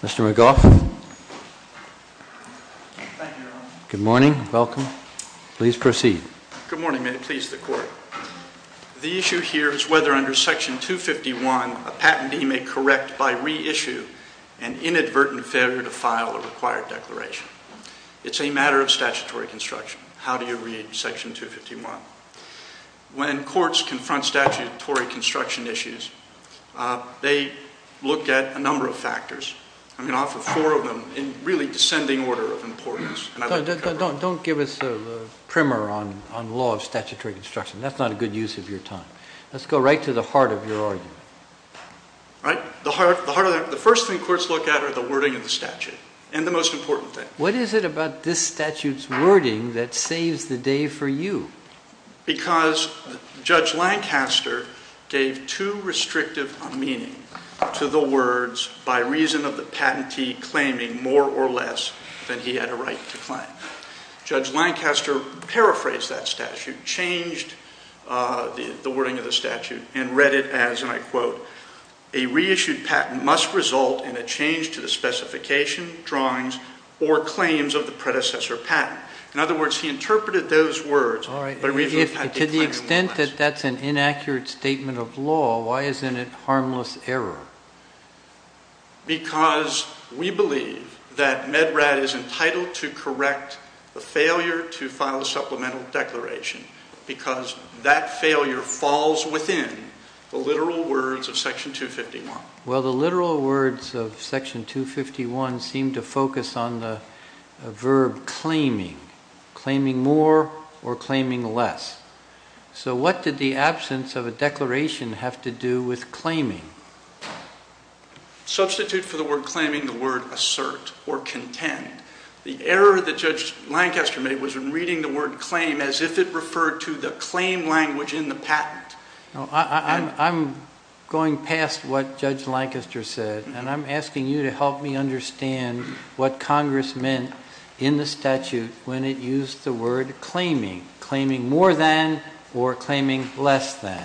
Dr. Michael Oxford Good morning, may it please the Court. The issue here is whether under Section 251, a patentee may correct by reissue an inadvertent failure to file a required declaration. It's a matter of statutory construction. How do you read Section 251? When courts confront statutory construction issues, they look at a number of factors. I'm going to offer four of them in really descending order of importance. Don't give us a primer on the law of statutory construction, that's not a good use of your time. Let's go right to the heart of your argument. The first thing courts look at are the wording of the statute, and the most important thing. What is it about this statute's wording that saves the day for you? Because Judge Lancaster gave too restrictive a meaning to the words by reason of the patentee claiming more or less than he had a right to claim. Judge Lancaster paraphrased that statute, changed the wording of the statute, and read it as, and I quote, a reissued patent must result in a change to the specification, drawings, or claims of the predecessor patent. In other words, he interpreted those words, but we've had to claim more or less. To the extent that that's an inaccurate statement of law, why isn't it harmless error? Because we believe that MedRat is entitled to correct the failure to file a supplemental declaration, because that failure falls within the literal words of Section 251. Well the literal words of Section 251 seem to focus on the verb claiming, claiming more or claiming less. So what did the absence of a declaration have to do with claiming? Substitute for the word claiming the word assert or contend. The error that Judge Lancaster made was in reading the word claim as if it referred to the claim language in the patent. I'm going past what Judge Lancaster said, and I'm asking you to help me understand what Congress meant in the statute when it used the word claiming. Claiming more than or claiming less than,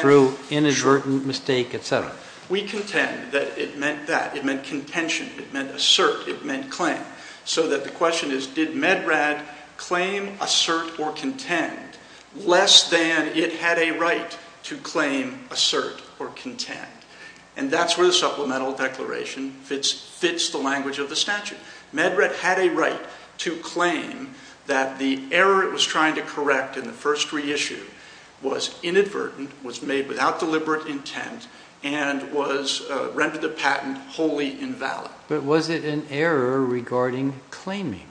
through inadvertent mistake, etc. We contend that it meant that, it meant contention, it meant assert, it meant claim. So that the question is, did MedRat claim, assert, or contend less than it had a right to claim, assert, or contend? And that's where the supplemental declaration fits the language of the statute. MedRat had a right to claim that the error it was trying to correct in the first reissue was inadvertent, was made without deliberate intent, and was, rendered the patent wholly invalid. But was it an error regarding claiming?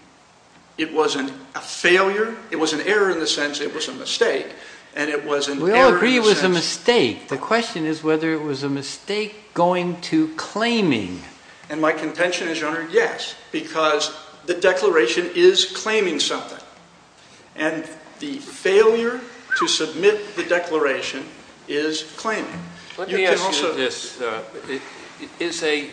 It wasn't a failure, it was an error in the sense it was a mistake, and it was an error We all agree it was a mistake. The question is whether it was a mistake going to claiming. And my contention is, Your Honor, yes, because the declaration is claiming something. And the failure to submit the declaration is claiming. Let me ask you this. Is a,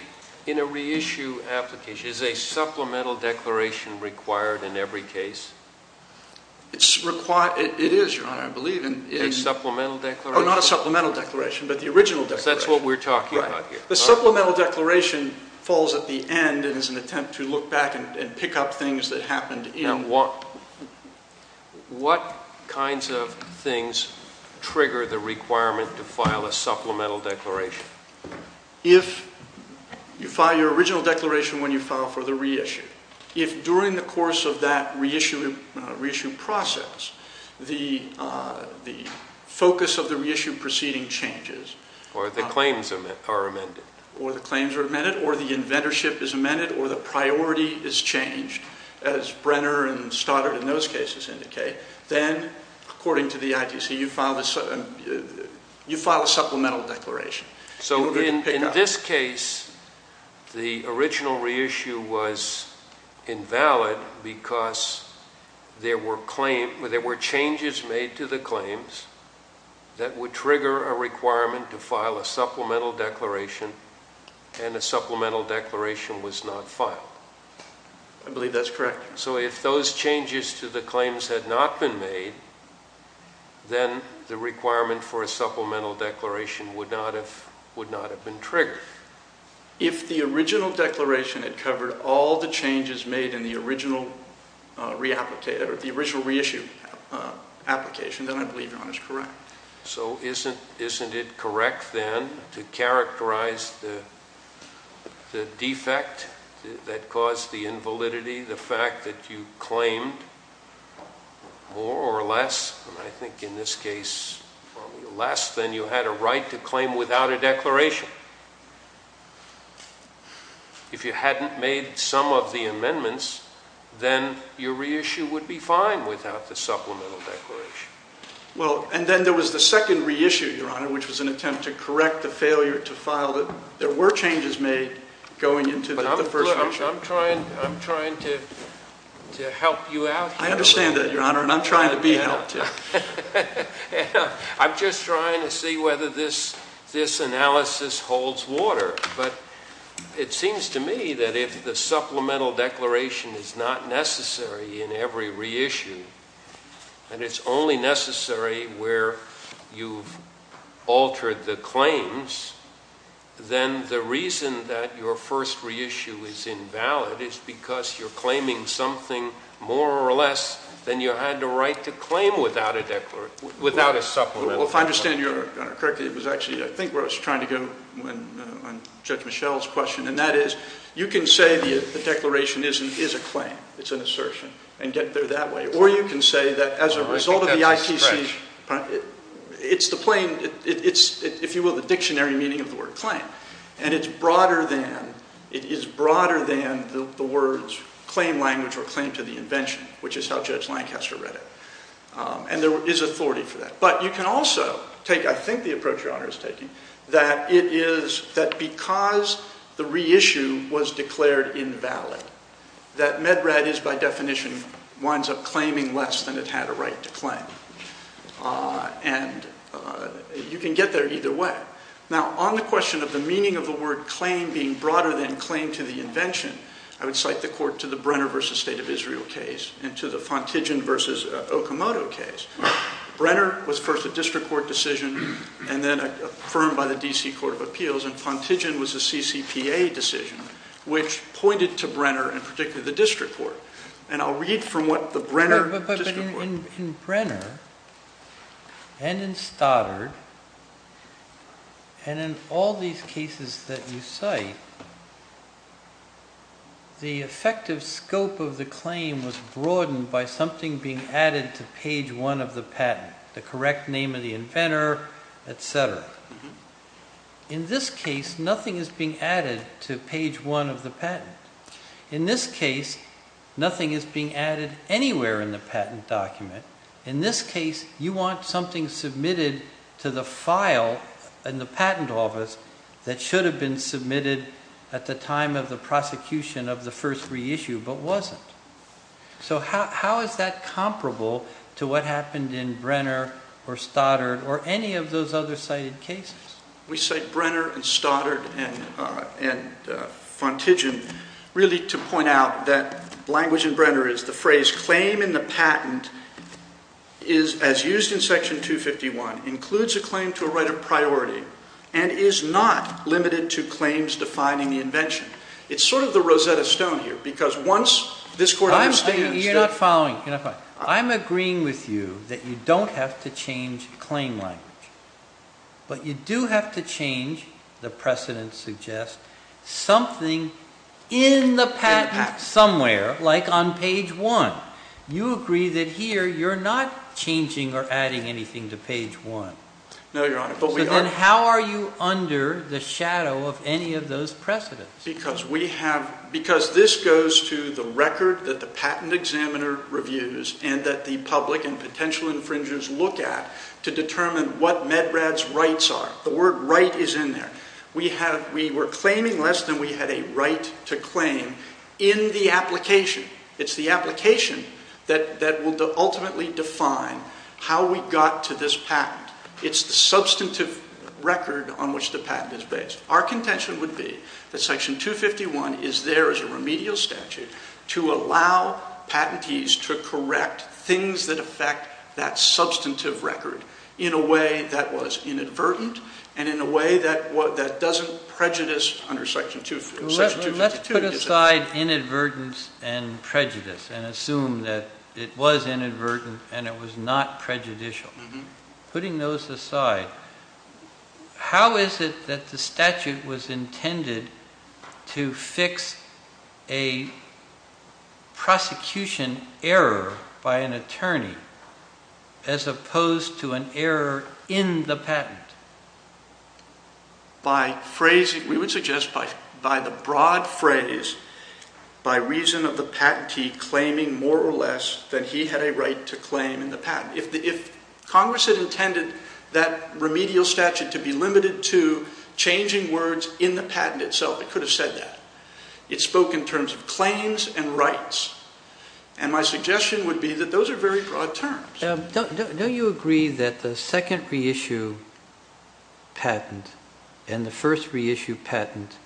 in a reissue application, is a supplemental declaration required in every case? It's required, it is, Your Honor, I believe. A supplemental declaration? Oh, not a supplemental declaration, but the original declaration. That's what we're talking about here. The supplemental declaration falls at the end and is an attempt to look back and pick up things that happened in. What kinds of things trigger the requirement to file a supplemental declaration? If you file your original declaration when you file for the reissue, if during the course of that reissue process, the focus of the reissue proceeding changes. Or the claims are amended. Or the claims are amended, or the inventorship is amended, or the priority is changed, as Stoddard in those cases indicate, then, according to the ITC, you file a supplemental declaration. So in this case, the original reissue was invalid because there were changes made to the claims that would trigger a requirement to file a supplemental declaration, and a supplemental declaration was not filed. I believe that's correct. So if those changes to the claims had not been made, then the requirement for a supplemental declaration would not have been triggered. If the original declaration had covered all the changes made in the original reissue application, then I believe your honor is correct. So isn't it correct, then, to characterize the defect that caused the invalidity, the fact that you claimed more or less, and I think in this case less, than you had a right to claim without a declaration? If you hadn't made some of the amendments, then your reissue would be fine without the supplemental declaration. Well, and then there was the second reissue, your honor, which was an attempt to correct the failure to file the, there were changes made going into the first reissue. I'm trying, I'm trying to help you out here. I understand that, your honor, and I'm trying to be helped, too. I'm just trying to see whether this, this analysis holds water, but it seems to me that if the supplemental declaration is not necessary in every reissue, and it's only necessary where you've altered the claims, then the reason that your first reissue is in the second reissue is invalid is because you're claiming something more or less than you had the right to claim without a declaration, without a supplemental declaration. Well, if I understand your honor correctly, it was actually, I think, where I was trying to go on Judge Michel's question, and that is, you can say the declaration is a claim, it's an assertion, and get there that way, or you can say that as a result of the ITC, it's the plain, it's, if you will, the dictionary meaning of the word claim, and it's broader than, it is broader than the words claim language or claim to the invention, which is how Judge Lancaster read it, and there is authority for that. But you can also take, I think the approach your honor is taking, that it is that because the reissue was declared invalid, that MedRat is, by definition, winds up claiming less than it had a right to claim, and you can get there either way. Now, on the question of the meaning of the word claim being broader than claim to the invention, I would cite the court to the Brenner v. State of Israel case, and to the Fontigin v. Okamoto case. Brenner was first a district court decision, and then affirmed by the D.C. Court of Appeals, and Fontigin was a CCPA decision, which pointed to Brenner, and particularly the district court. And I'll read from what the Brenner district court... In Brenner, and in Stoddard, and in all these cases that you cite, the effective scope of the claim was broadened by something being added to page one of the patent, the correct name of the inventor, et cetera. In this case, nothing is being added to page one of the patent. In this case, nothing is being added anywhere in the patent document. In this case, you want something submitted to the file in the patent office that should have been submitted at the time of the prosecution of the first reissue, but wasn't. So how is that comparable to what happened in Brenner, or Stoddard, or any of those other cited cases? We cite Brenner, and Stoddard, and Fontigin, really to point out that language in Brenner is the phrase, claim in the patent is, as used in section 251, includes a claim to a right of priority, and is not limited to claims defining the invention. It's sort of the Rosetta Stone here, because once this court understands... You're not following. I'm agreeing with you that you don't have to change claim language, but you do have to change, the precedent suggests, something in the patent somewhere, like on page one. You agree that here, you're not changing or adding anything to page one. No, Your Honor. But we are. So then how are you under the shadow of any of those precedents? Because this goes to the record that the patent examiner reviews, and that the public and potential infringers look at to determine what MedRAD's rights are. The word right is in there. We were claiming less than we had a right to claim in the application. It's the application that will ultimately define how we got to this patent. It's the substantive record on which the patent is based. Our contention would be that section 251 is there as a remedial statute to allow patentees to correct things that affect that substantive record in a way that was inadvertent, and in a way that doesn't prejudice under section 252. Let's put aside inadvertence and prejudice, and assume that it was inadvertent and it was not prejudicial. Putting those aside, how is it that the statute was intended to fix a prosecution error by an attorney as opposed to an error in the patent? By phrasing, we would suggest by the broad phrase, by reason of the patentee claiming more or less than he had a right to claim in the patent. If Congress had intended that remedial statute to be limited to changing words in the patent itself, it could have said that. It spoke in terms of claims and rights. My suggestion would be that those are very broad terms. Don't you agree that the second reissue patent and the first reissue patent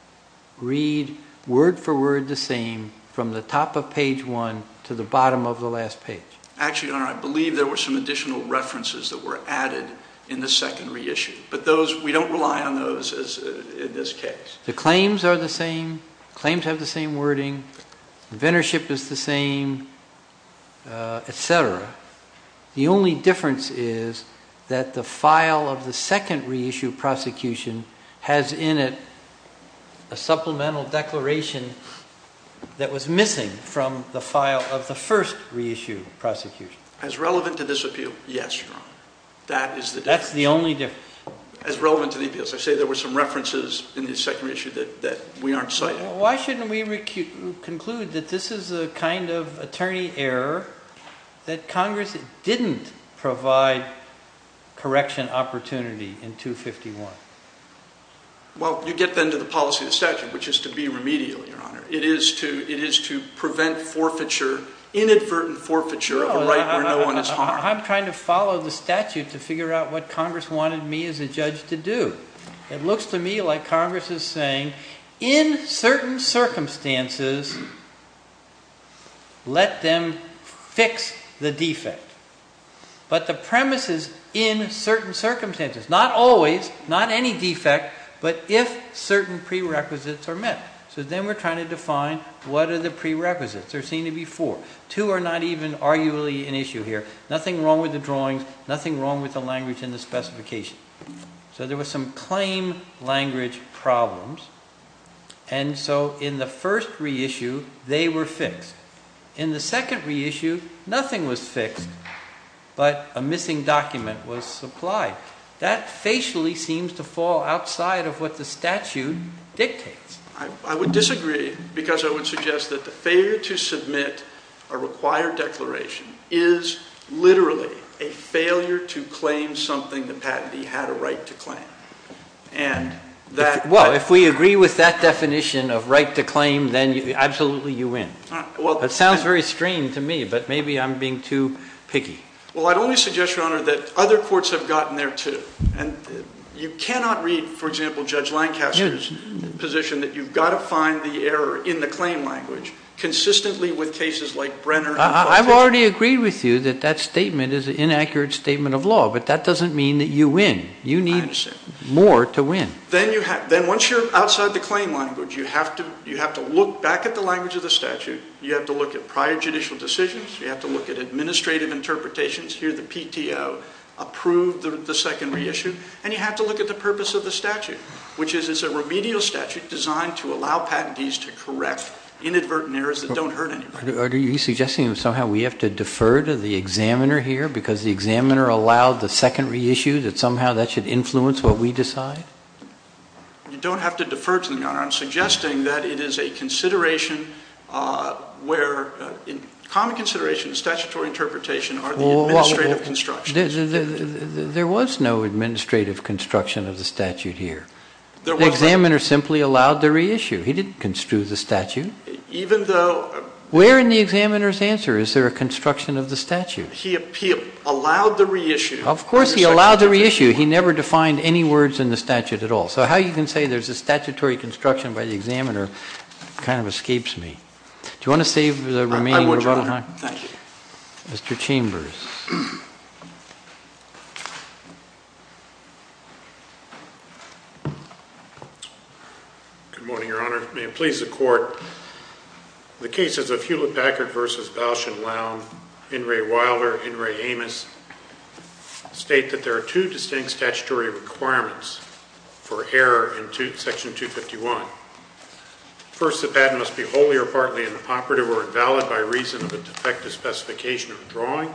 read word for word the same from the top of page one to the bottom of the last page? Actually, Your Honor, I believe there were some additional references that were added in the second reissue, but we don't rely on those in this case. The claims are the same, claims have the same wording, inventorship is the same, etc. The only difference is that the file of the second reissue prosecution has in it a supplemental declaration that was missing from the file of the first reissue prosecution. As relevant to this appeal, yes, Your Honor. That is the difference. That's the only difference. As relevant to the appeal. As I say, there were some references in the second reissue that we aren't citing. Why shouldn't we conclude that this is a kind of attorney error that Congress didn't provide correction opportunity in 251? Well, you get then to the policy of the statute, which is to be remedial, Your Honor. It is to prevent forfeiture, inadvertent forfeiture of a right where no one is harmed. I'm trying to follow the statute to figure out what Congress wanted me as a judge to do. It looks to me like Congress is saying, in certain circumstances, let them fix the defect. But the premise is, in certain circumstances, not always, not any defect, but if certain prerequisites are met. So then we're trying to define what are the prerequisites. There seem to be four. Two are not even arguably an issue here. Nothing wrong with the drawings. Nothing wrong with the language in the specification. So there were some claim language problems. And so in the first reissue, they were fixed. In the second reissue, nothing was fixed, but a missing document was supplied. That facially seems to fall outside of what the statute dictates. I would disagree because I would suggest that the failure to submit a required declaration is literally a failure to claim something the patentee had a right to claim. And that... Well, if we agree with that definition of right to claim, then absolutely you win. That sounds very strange to me, but maybe I'm being too picky. Well, I'd only suggest, Your Honor, that other courts have gotten there too. And you cannot read, for example, Judge Lancaster's position that you've got to find the error in the claim language consistently with cases like Brenner... I've already agreed with you that that statement is an inaccurate statement of law, but that doesn't mean that you win. You need more to win. Then once you're outside the claim language, you have to look back at the language of the statute, you have to look at prior judicial decisions, you have to look at administrative interpretations, here the PTO approved the second reissue, and you have to look at the purpose of the statute, which is it's a remedial statute designed to allow patentees to correct inadvertent errors that don't hurt anybody. Are you suggesting that somehow we have to defer to the examiner here because the examiner allowed the second reissue, that somehow that should influence what we decide? You don't have to defer to them, Your Honor. I'm suggesting that it is a consideration where, a common consideration in statutory interpretation are the administrative constructions. There was no administrative construction of the statute here. The examiner simply allowed the reissue. He didn't construe the statute. Even though... Where in the examiner's answer is there a construction of the statute? He allowed the reissue. Of course he allowed the reissue. He never defined any words in the statute at all. So how you can say there's a statutory construction by the examiner kind of escapes me. Do you want to save the remaining rebuttal time? I would, Your Honor. Thank you. Mr. Chambers. Good morning, Your Honor. May it please the Court, the cases of Hewlett-Packard v. Bausch and Lown, In re Wilder, In re Amos state that there are two distinct statutory requirements for error in section 251. First, the patent must be wholly or partly inoperative or invalid by reason of a defective specification of drawing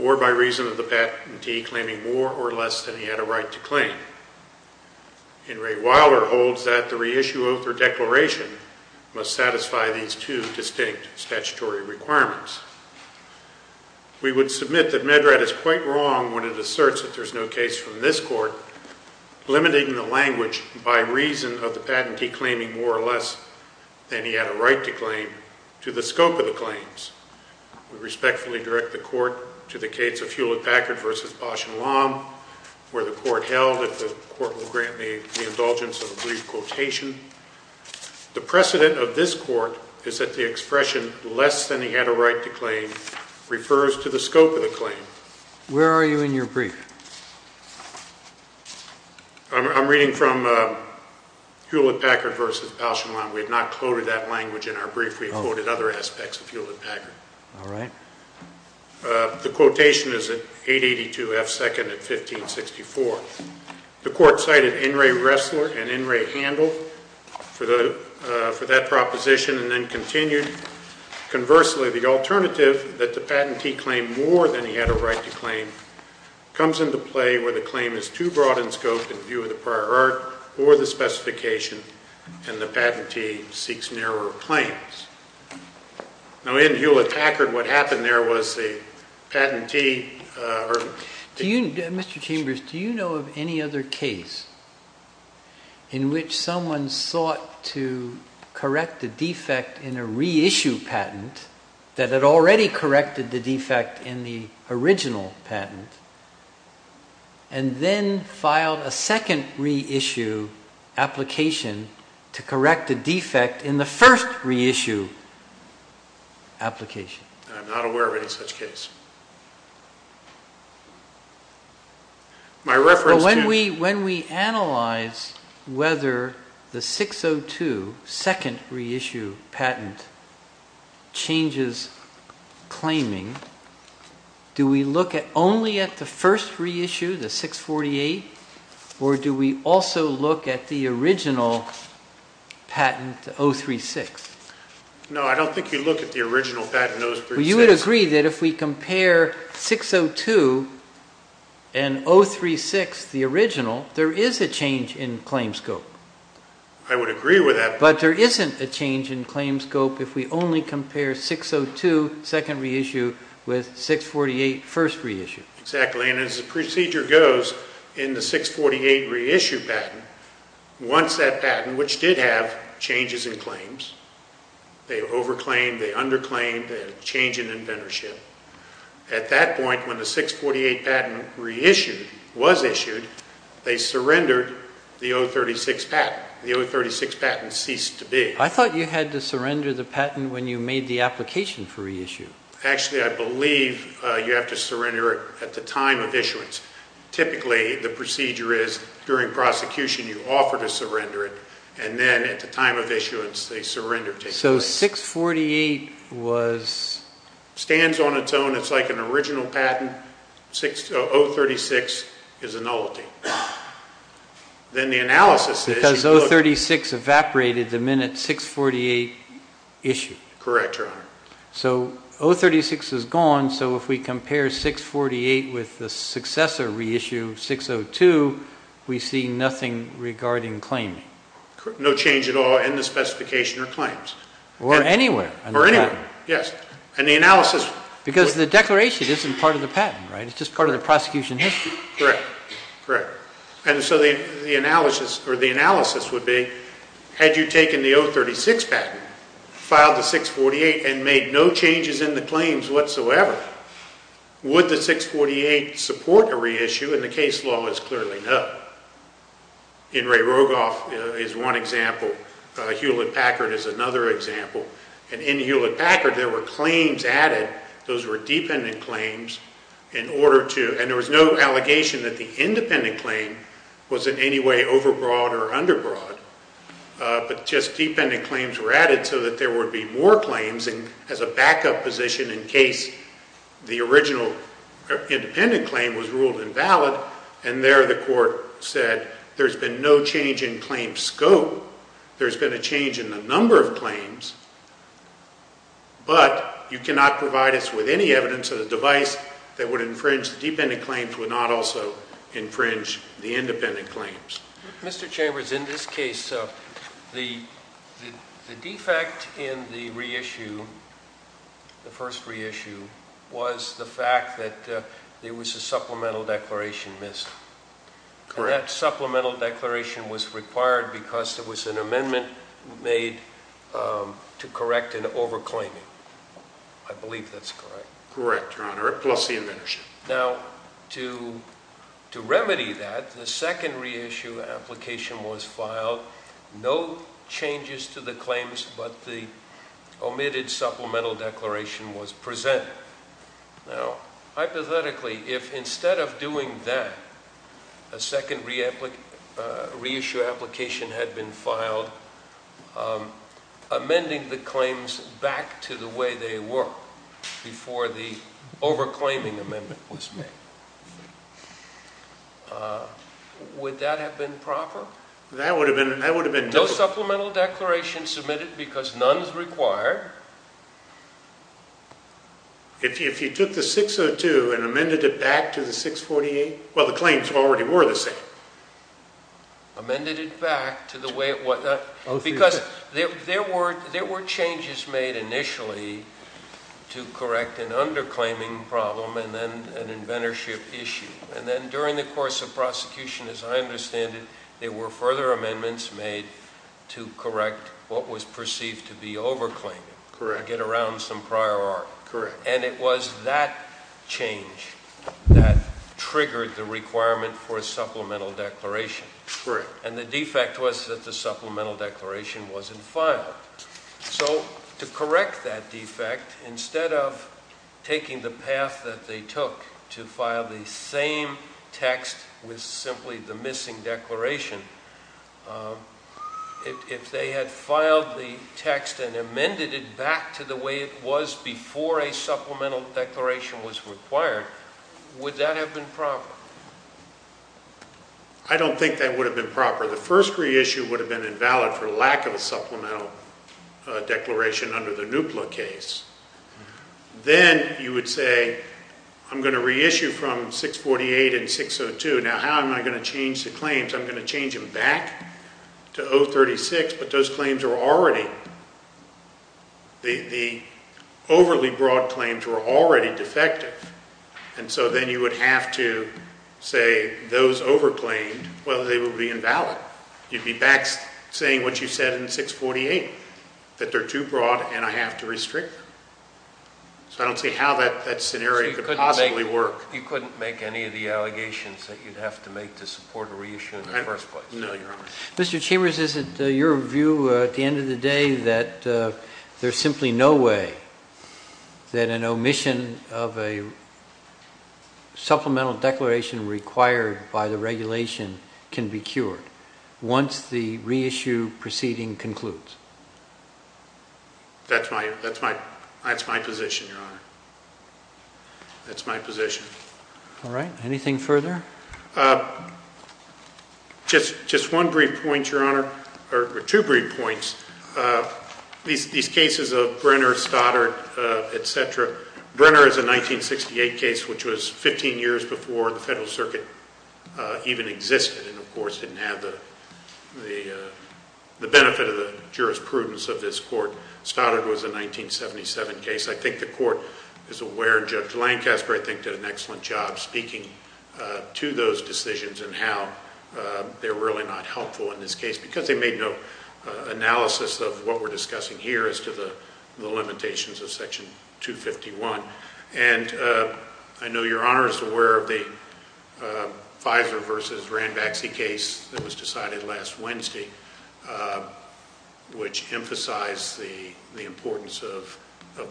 or by reason of the patentee claiming more or less than he had a right to claim. In re Wilder holds that the reissue oath or declaration must satisfy these two distinct statutory requirements. We would submit that Medrad is quite wrong when it asserts that there's no case from this Court limiting the language by reason of the patentee claiming more or less than he had a right to claim to the scope of the claims. We respectfully direct the Court to the case of Hewlett-Packard v. Bausch and Lown where the Court held that the Court will grant me the indulgence of a brief quotation. The precedent of this Court is that the expression less than he had a right to claim is not a right to claim. It refers to the scope of the claim. Where are you in your brief? I'm reading from Hewlett-Packard v. Bausch and Lown. We have not quoted that language in our brief. We have quoted other aspects of Hewlett-Packard. The quotation is at 882 F. 2nd at 1564. The Court cited In re Ressler and In re Handel for that proposition and then continued, conversely the alternative that the patentee claimed more than he had a right to claim comes into play where the claim is too broad in scope in view of the prior art or the specification and the patentee seeks narrower claims. Now in Hewlett-Packard, what happened there was the patentee or Mr. Chambers, do you know of any other case in which someone sought to correct the defect in a reissue patent that had already corrected the defect in the original patent and then filed a second reissue application to correct the defect in the first reissue application? I'm not aware of any such case. My reference to... When we analyze whether the 602 second reissue patent changes claiming, do we look at only at the first reissue, the 648 or do we also look at the original patent, the 036? No I don't think you look at the original patent, 036. Well you would agree that if we compare 602 and 036, the original, there is a change in claim scope. I would agree with that. But there isn't a change in claim scope if we only compare 602 second reissue with 648 first reissue. Exactly and as the procedure goes in the 648 reissue patent, once that patent, which did have changes in claims, they over claimed, they under claimed, they had a change in inventorship. At that point when the 648 patent reissued, was issued, they surrendered the 036 patent. The 036 patent ceased to be. I thought you had to surrender the patent when you made the application for reissue. Actually I believe you have to surrender it at the time of issuance. Typically the procedure is during prosecution you offer to surrender it and then at the time of issuance they surrender. So 648 was. Stands on its own, it's like an original patent, 036 is a nullity. Then the analysis is. Because 036 evaporated the minute 648 issued. Correct your honor. So 036 is gone, so if we compare 648 with the successor reissue 602, we see nothing regarding claim. No change at all in the specification or claims. Or anywhere. Or anywhere. Yes. And the analysis. Because the declaration isn't part of the patent, it's just part of the prosecution history. Correct. Correct. And so the analysis would be, had you taken the 036 patent, filed the 648 and made no changes in the claims whatsoever, would the 648 support a reissue and the case law is clearly no. In Ray Rogoff is one example, Hewlett-Packard is another example, and in Hewlett-Packard there were claims added, those were dependent claims in order to, and there was no allegation that the independent claim was in any way over-broad or under-broad, but just dependent claims were added so that there would be more claims as a backup position in case the original independent claim was ruled invalid, and there the court said there's been no change in claim scope, there's been a change in the number of claims, but you cannot provide us with any evidence or the device that would infringe the dependent claims would not also infringe the independent claims. Mr. Chambers, in this case, the defect in the reissue, the first reissue, was the fact that there was a supplemental declaration missed. Correct. And that supplemental declaration was required because there was an amendment made to correct an over-claiming. I believe that's correct. Correct, Your Honor, plus the amendership. Now to remedy that, the second reissue application was filed, no changes to the claims, but the omitted supplemental declaration was presented. Now hypothetically, if instead of doing that, a second reissue application had been filed, amending the claims back to the way they were before the over-claiming amendment was made, would that have been proper? That would have been, that would have been. No supplemental declaration submitted because none is required. If you took the 602 and amended it back to the 648, well the claims already were the same. Amended it back to the way it was, because there were changes made initially to correct an under-claiming problem and then an amendership issue. And then during the course of prosecution, as I understand it, there were further amendments made to correct what was perceived to be over-claiming, to get around some prior art. Correct. And it was that change that triggered the requirement for a supplemental declaration. Correct. And the defect was that the supplemental declaration wasn't filed. So to correct that defect, instead of taking the path that they took to file the same text with simply the missing declaration, if they had filed the text and amended it back to the way it was before a supplemental declaration was required, would that have been proper? I don't think that would have been proper. The first reissue would have been invalid for lack of a supplemental declaration under the NUPLA case. Then you would say, I'm going to reissue from 648 and 602, now how am I going to change the claims? I'm going to change them back to 036, but those claims are already, the overly broad claims were already defective. And so then you would have to say those over-claimed, well, they would be invalid. You'd be back saying what you said in 648, that they're too broad and I have to restrict them. So I don't see how that scenario could possibly work. You couldn't make any of the allegations that you'd have to make to support a reissue in the first place? No, Your Honor. Mr. Chambers, is it your view at the end of the day that there's simply no way that an omission of a supplemental declaration required by the regulation can be cured once the reissue proceeding concludes? That's my position, Your Honor. That's my position. All right. Anything further? Just one brief point, Your Honor, or two brief points. These cases of Brenner, Stoddard, et cetera, Brenner is a 1968 case, which was 15 years before the Federal Circuit even existed, and of course didn't have the benefit of the jurisprudence of this court. Stoddard was a 1977 case. I think the court is aware, and Judge Lancaster I think did an excellent job speaking to those decisions and how they're really not helpful in this case, because they made no analysis of what we're discussing here as to the limitations of Section 251. And I know Your Honor is aware of the Fisler v. Ranbaxy case that was decided last Wednesday, which emphasized the importance of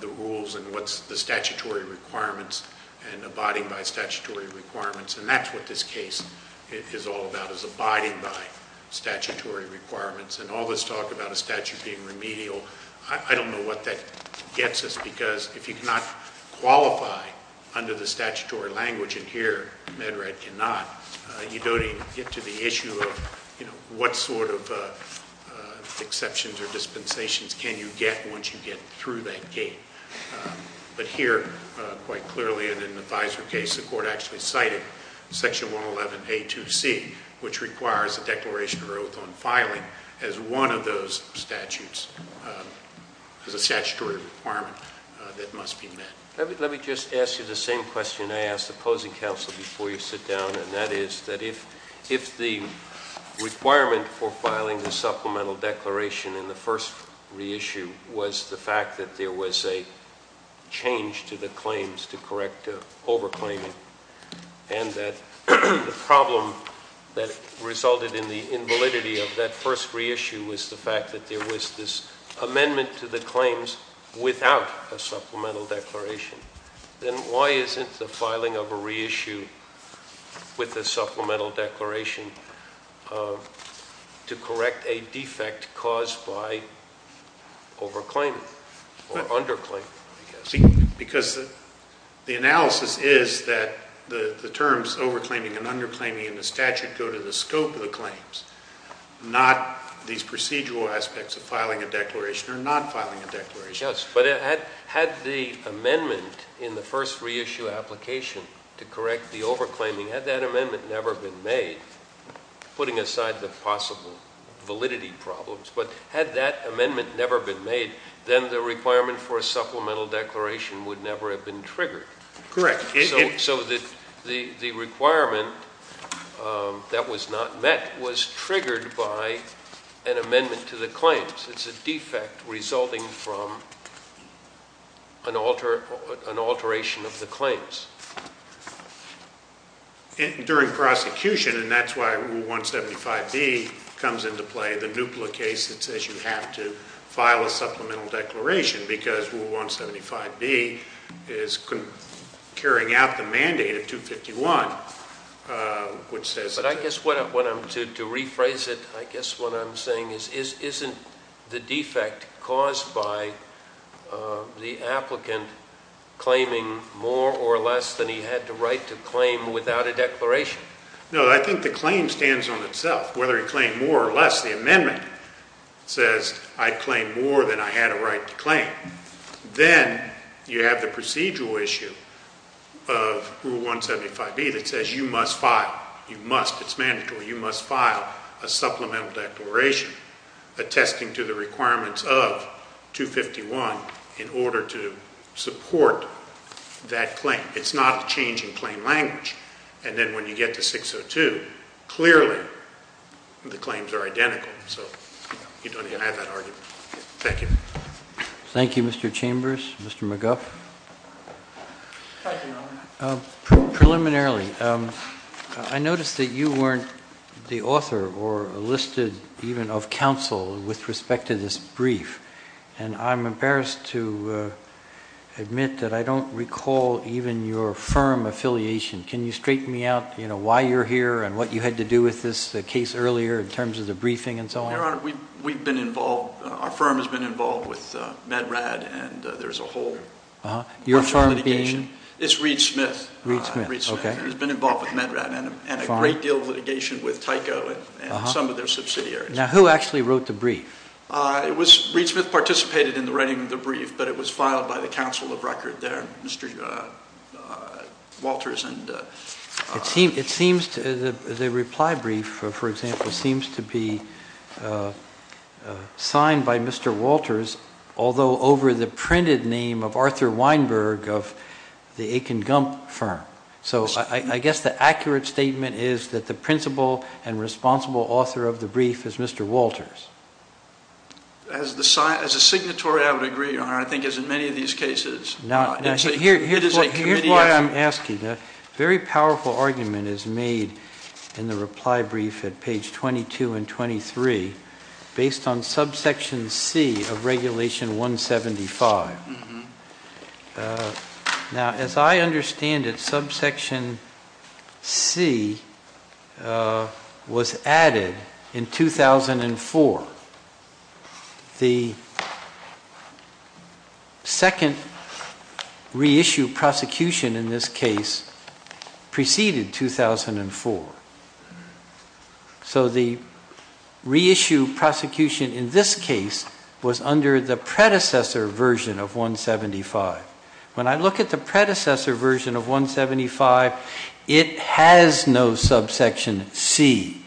the rules and what's the statutory requirements and abiding by statutory requirements, and that's what this case is all about, is abiding by statutory requirements. And all this talk about a statute being remedial, I don't know what that gets us, because if you cannot qualify under the statutory language in here, MedRat cannot, you don't even get to the issue of what sort of exceptions or dispensations can you get once you get through that gate. But here, quite clearly, in the Fisler case, the court actually cited Section 111A-2C, which requires a declaration of oath on filing, as one of those statutes, as a statutory requirement that must be met. Let me just ask you the same question I asked the opposing counsel before you sit down, and that is, that if the requirement for filing the supplemental declaration in the first reissue was the fact that there was a change to the claims to correct over-claiming, and that the problem that resulted in the invalidity of that first reissue was the fact that there was this amendment to the claims without a supplemental declaration, then why isn't the filing of a reissue with a supplemental declaration to correct a defect caused by over-claiming, or under-claiming, I guess? Because the analysis is that the terms over-claiming and under-claiming in the statute go to the scope of the claims, not these procedural aspects of filing a declaration or not filing a declaration. Yes, but had the amendment in the first reissue application to correct the over-claiming, had that amendment never been made, putting aside the possible validity problems, but had that amendment never been made, then the requirement for a supplemental declaration would never have been triggered. Correct. So the requirement that was not met was triggered by an amendment to the claims. It's a defect resulting from an alteration of the claims. During prosecution, and that's why Rule 175B comes into play, the NUPLA case that says you have to file a supplemental declaration, because Rule 175B is carrying out the mandate of 251, which says that... To rephrase it, I guess what I'm saying is, isn't the defect caused by the applicant claiming more or less than he had the right to claim without a declaration? No, I think the claim stands on itself. Whether he claimed more or less, the amendment says I claim more than I had a right to claim. Then you have the procedural issue of Rule 175B that says you must file. You must. It's mandatory. You must file a supplemental declaration attesting to the requirements of 251 in order to support that claim. It's not a change in claim language. And then when you get to 602, clearly the claims are identical. So you don't even have that argument. Thank you. Thank you, Mr. Chambers. Mr. McGuff? Preliminarily. I noticed that you weren't the author or listed even of counsel with respect to this brief. And I'm embarrassed to admit that I don't recall even your firm affiliation. Can you straighten me out why you're here and what you had to do with this case earlier in terms of the briefing and so on? Your Honor, we've been involved, our firm has been involved with MedRAD and there's a whole... Your firm being? It's Reed Smith. Reed Smith. Okay. He's been involved with MedRAD and a great deal of litigation with Tyco and some of their subsidiaries. Now, who actually wrote the brief? It was... Reed Smith participated in the writing of the brief, but it was filed by the counsel of record there, Mr. Walters and... It seems... The reply brief, for example, seems to be signed by Mr. Walters, although over the printed name of Arthur Weinberg of the Aiken Gump firm. So I guess the accurate statement is that the principal and responsible author of the brief is Mr. Walters. As a signatory, I would agree, Your Honor, I think as in many of these cases, it is a committee action. Now, here's why I'm asking. A very powerful argument is made in the reply brief at page 22 and 23 based on subsection C of regulation 175. Now, as I understand it, subsection C was added in 2004. The second reissue prosecution in this case preceded 2004. So the reissue prosecution in this case was under the predecessor version of 175. When I look at the predecessor version of 175, it has no subsection C.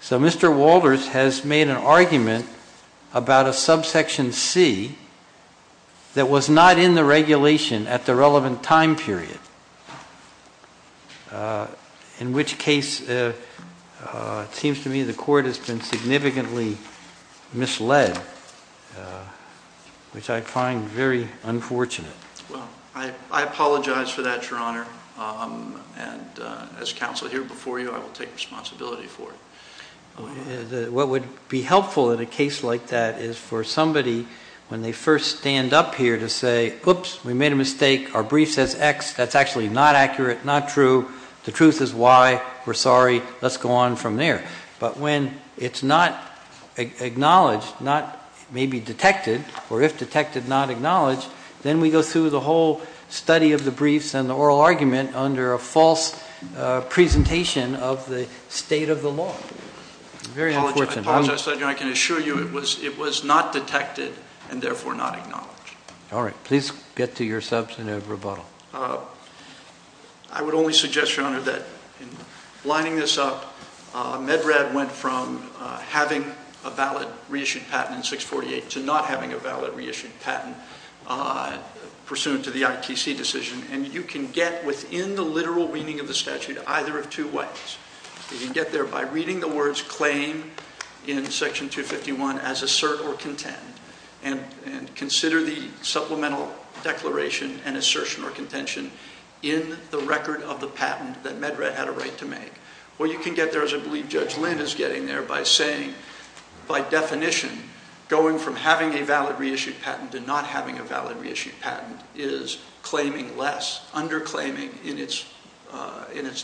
So Mr. Walters has made an argument about a subsection C that was not in the regulation at the relevant time period, in which case it seems to me the court has been significantly misled, which I find very unfortunate. Well, I apologize for that, Your Honor, and as counsel here before you, I will take responsibility for it. What would be helpful in a case like that is for somebody, when they first stand up here to say, oops, we made a mistake, our brief says X, that's actually not accurate, not true, the truth is Y, we're sorry, let's go on from there. But when it's not acknowledged, not maybe detected, or if detected, not acknowledged, then we go through the whole study of the briefs and the oral argument under a false presentation of the state of the law. Very unfortunate. I apologize, Your Honor, I can assure you it was not detected, and therefore not acknowledged. All right. Please get to your substantive rebuttal. I would only suggest, Your Honor, that in lining this up, Medrad went from having a valid reissued patent in 648 to not having a valid reissued patent pursuant to the ITC decision. And you can get within the literal meaning of the statute either of two ways. You can get there by reading the words claim in section 251 as assert or contend, and consider the supplemental declaration and assertion or contention in the record of the patent that Medrad had a right to make. Or you can get there, as I believe Judge Lynn is getting there, by saying, by definition, going from having a valid reissued patent to not having a valid reissued patent is claiming less, underclaiming in its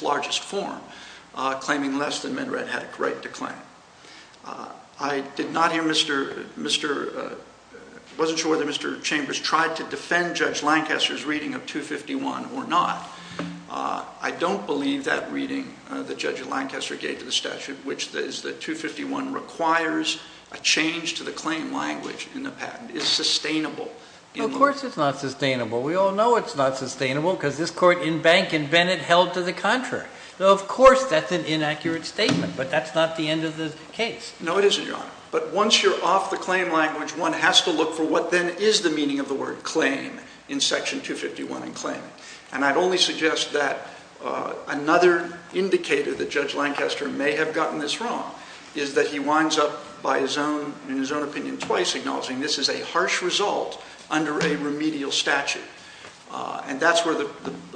largest form, claiming less than Medrad had a right to claim. I did not hear Mr. — I wasn't sure whether Mr. Chambers tried to defend Judge Lancaster's reading of 251 or not. I don't believe that reading that Judge Lancaster gave to the statute, which is that 251 requires a change to the claim language in the patent, is sustainable. Of course it's not sustainable. Well, we all know it's not sustainable because this Court in Bank and Bennett held to the contrary. Of course that's an inaccurate statement, but that's not the end of the case. No, it isn't, Your Honor. But once you're off the claim language, one has to look for what then is the meaning of the word claim in section 251 in claim. And I'd only suggest that another indicator that Judge Lancaster may have gotten this wrong is that he winds up by his own — in his own opinion, twice acknowledging this as a harsh result under a remedial statute. And that's where the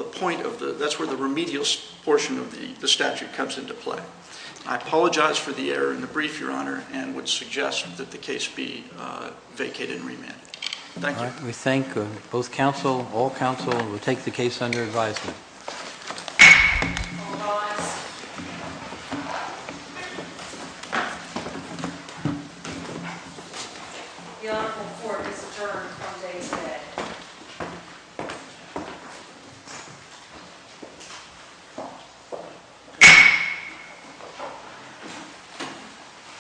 point of the — that's where the remedial portion of the statute comes into play. I apologize for the error in the brief, Your Honor, and would suggest that the case be vacated and remanded. Thank you. All right. We thank both counsel, all counsel, and we'll take the case under advisement. All rise. The Honorable Court is adjourned on day 10.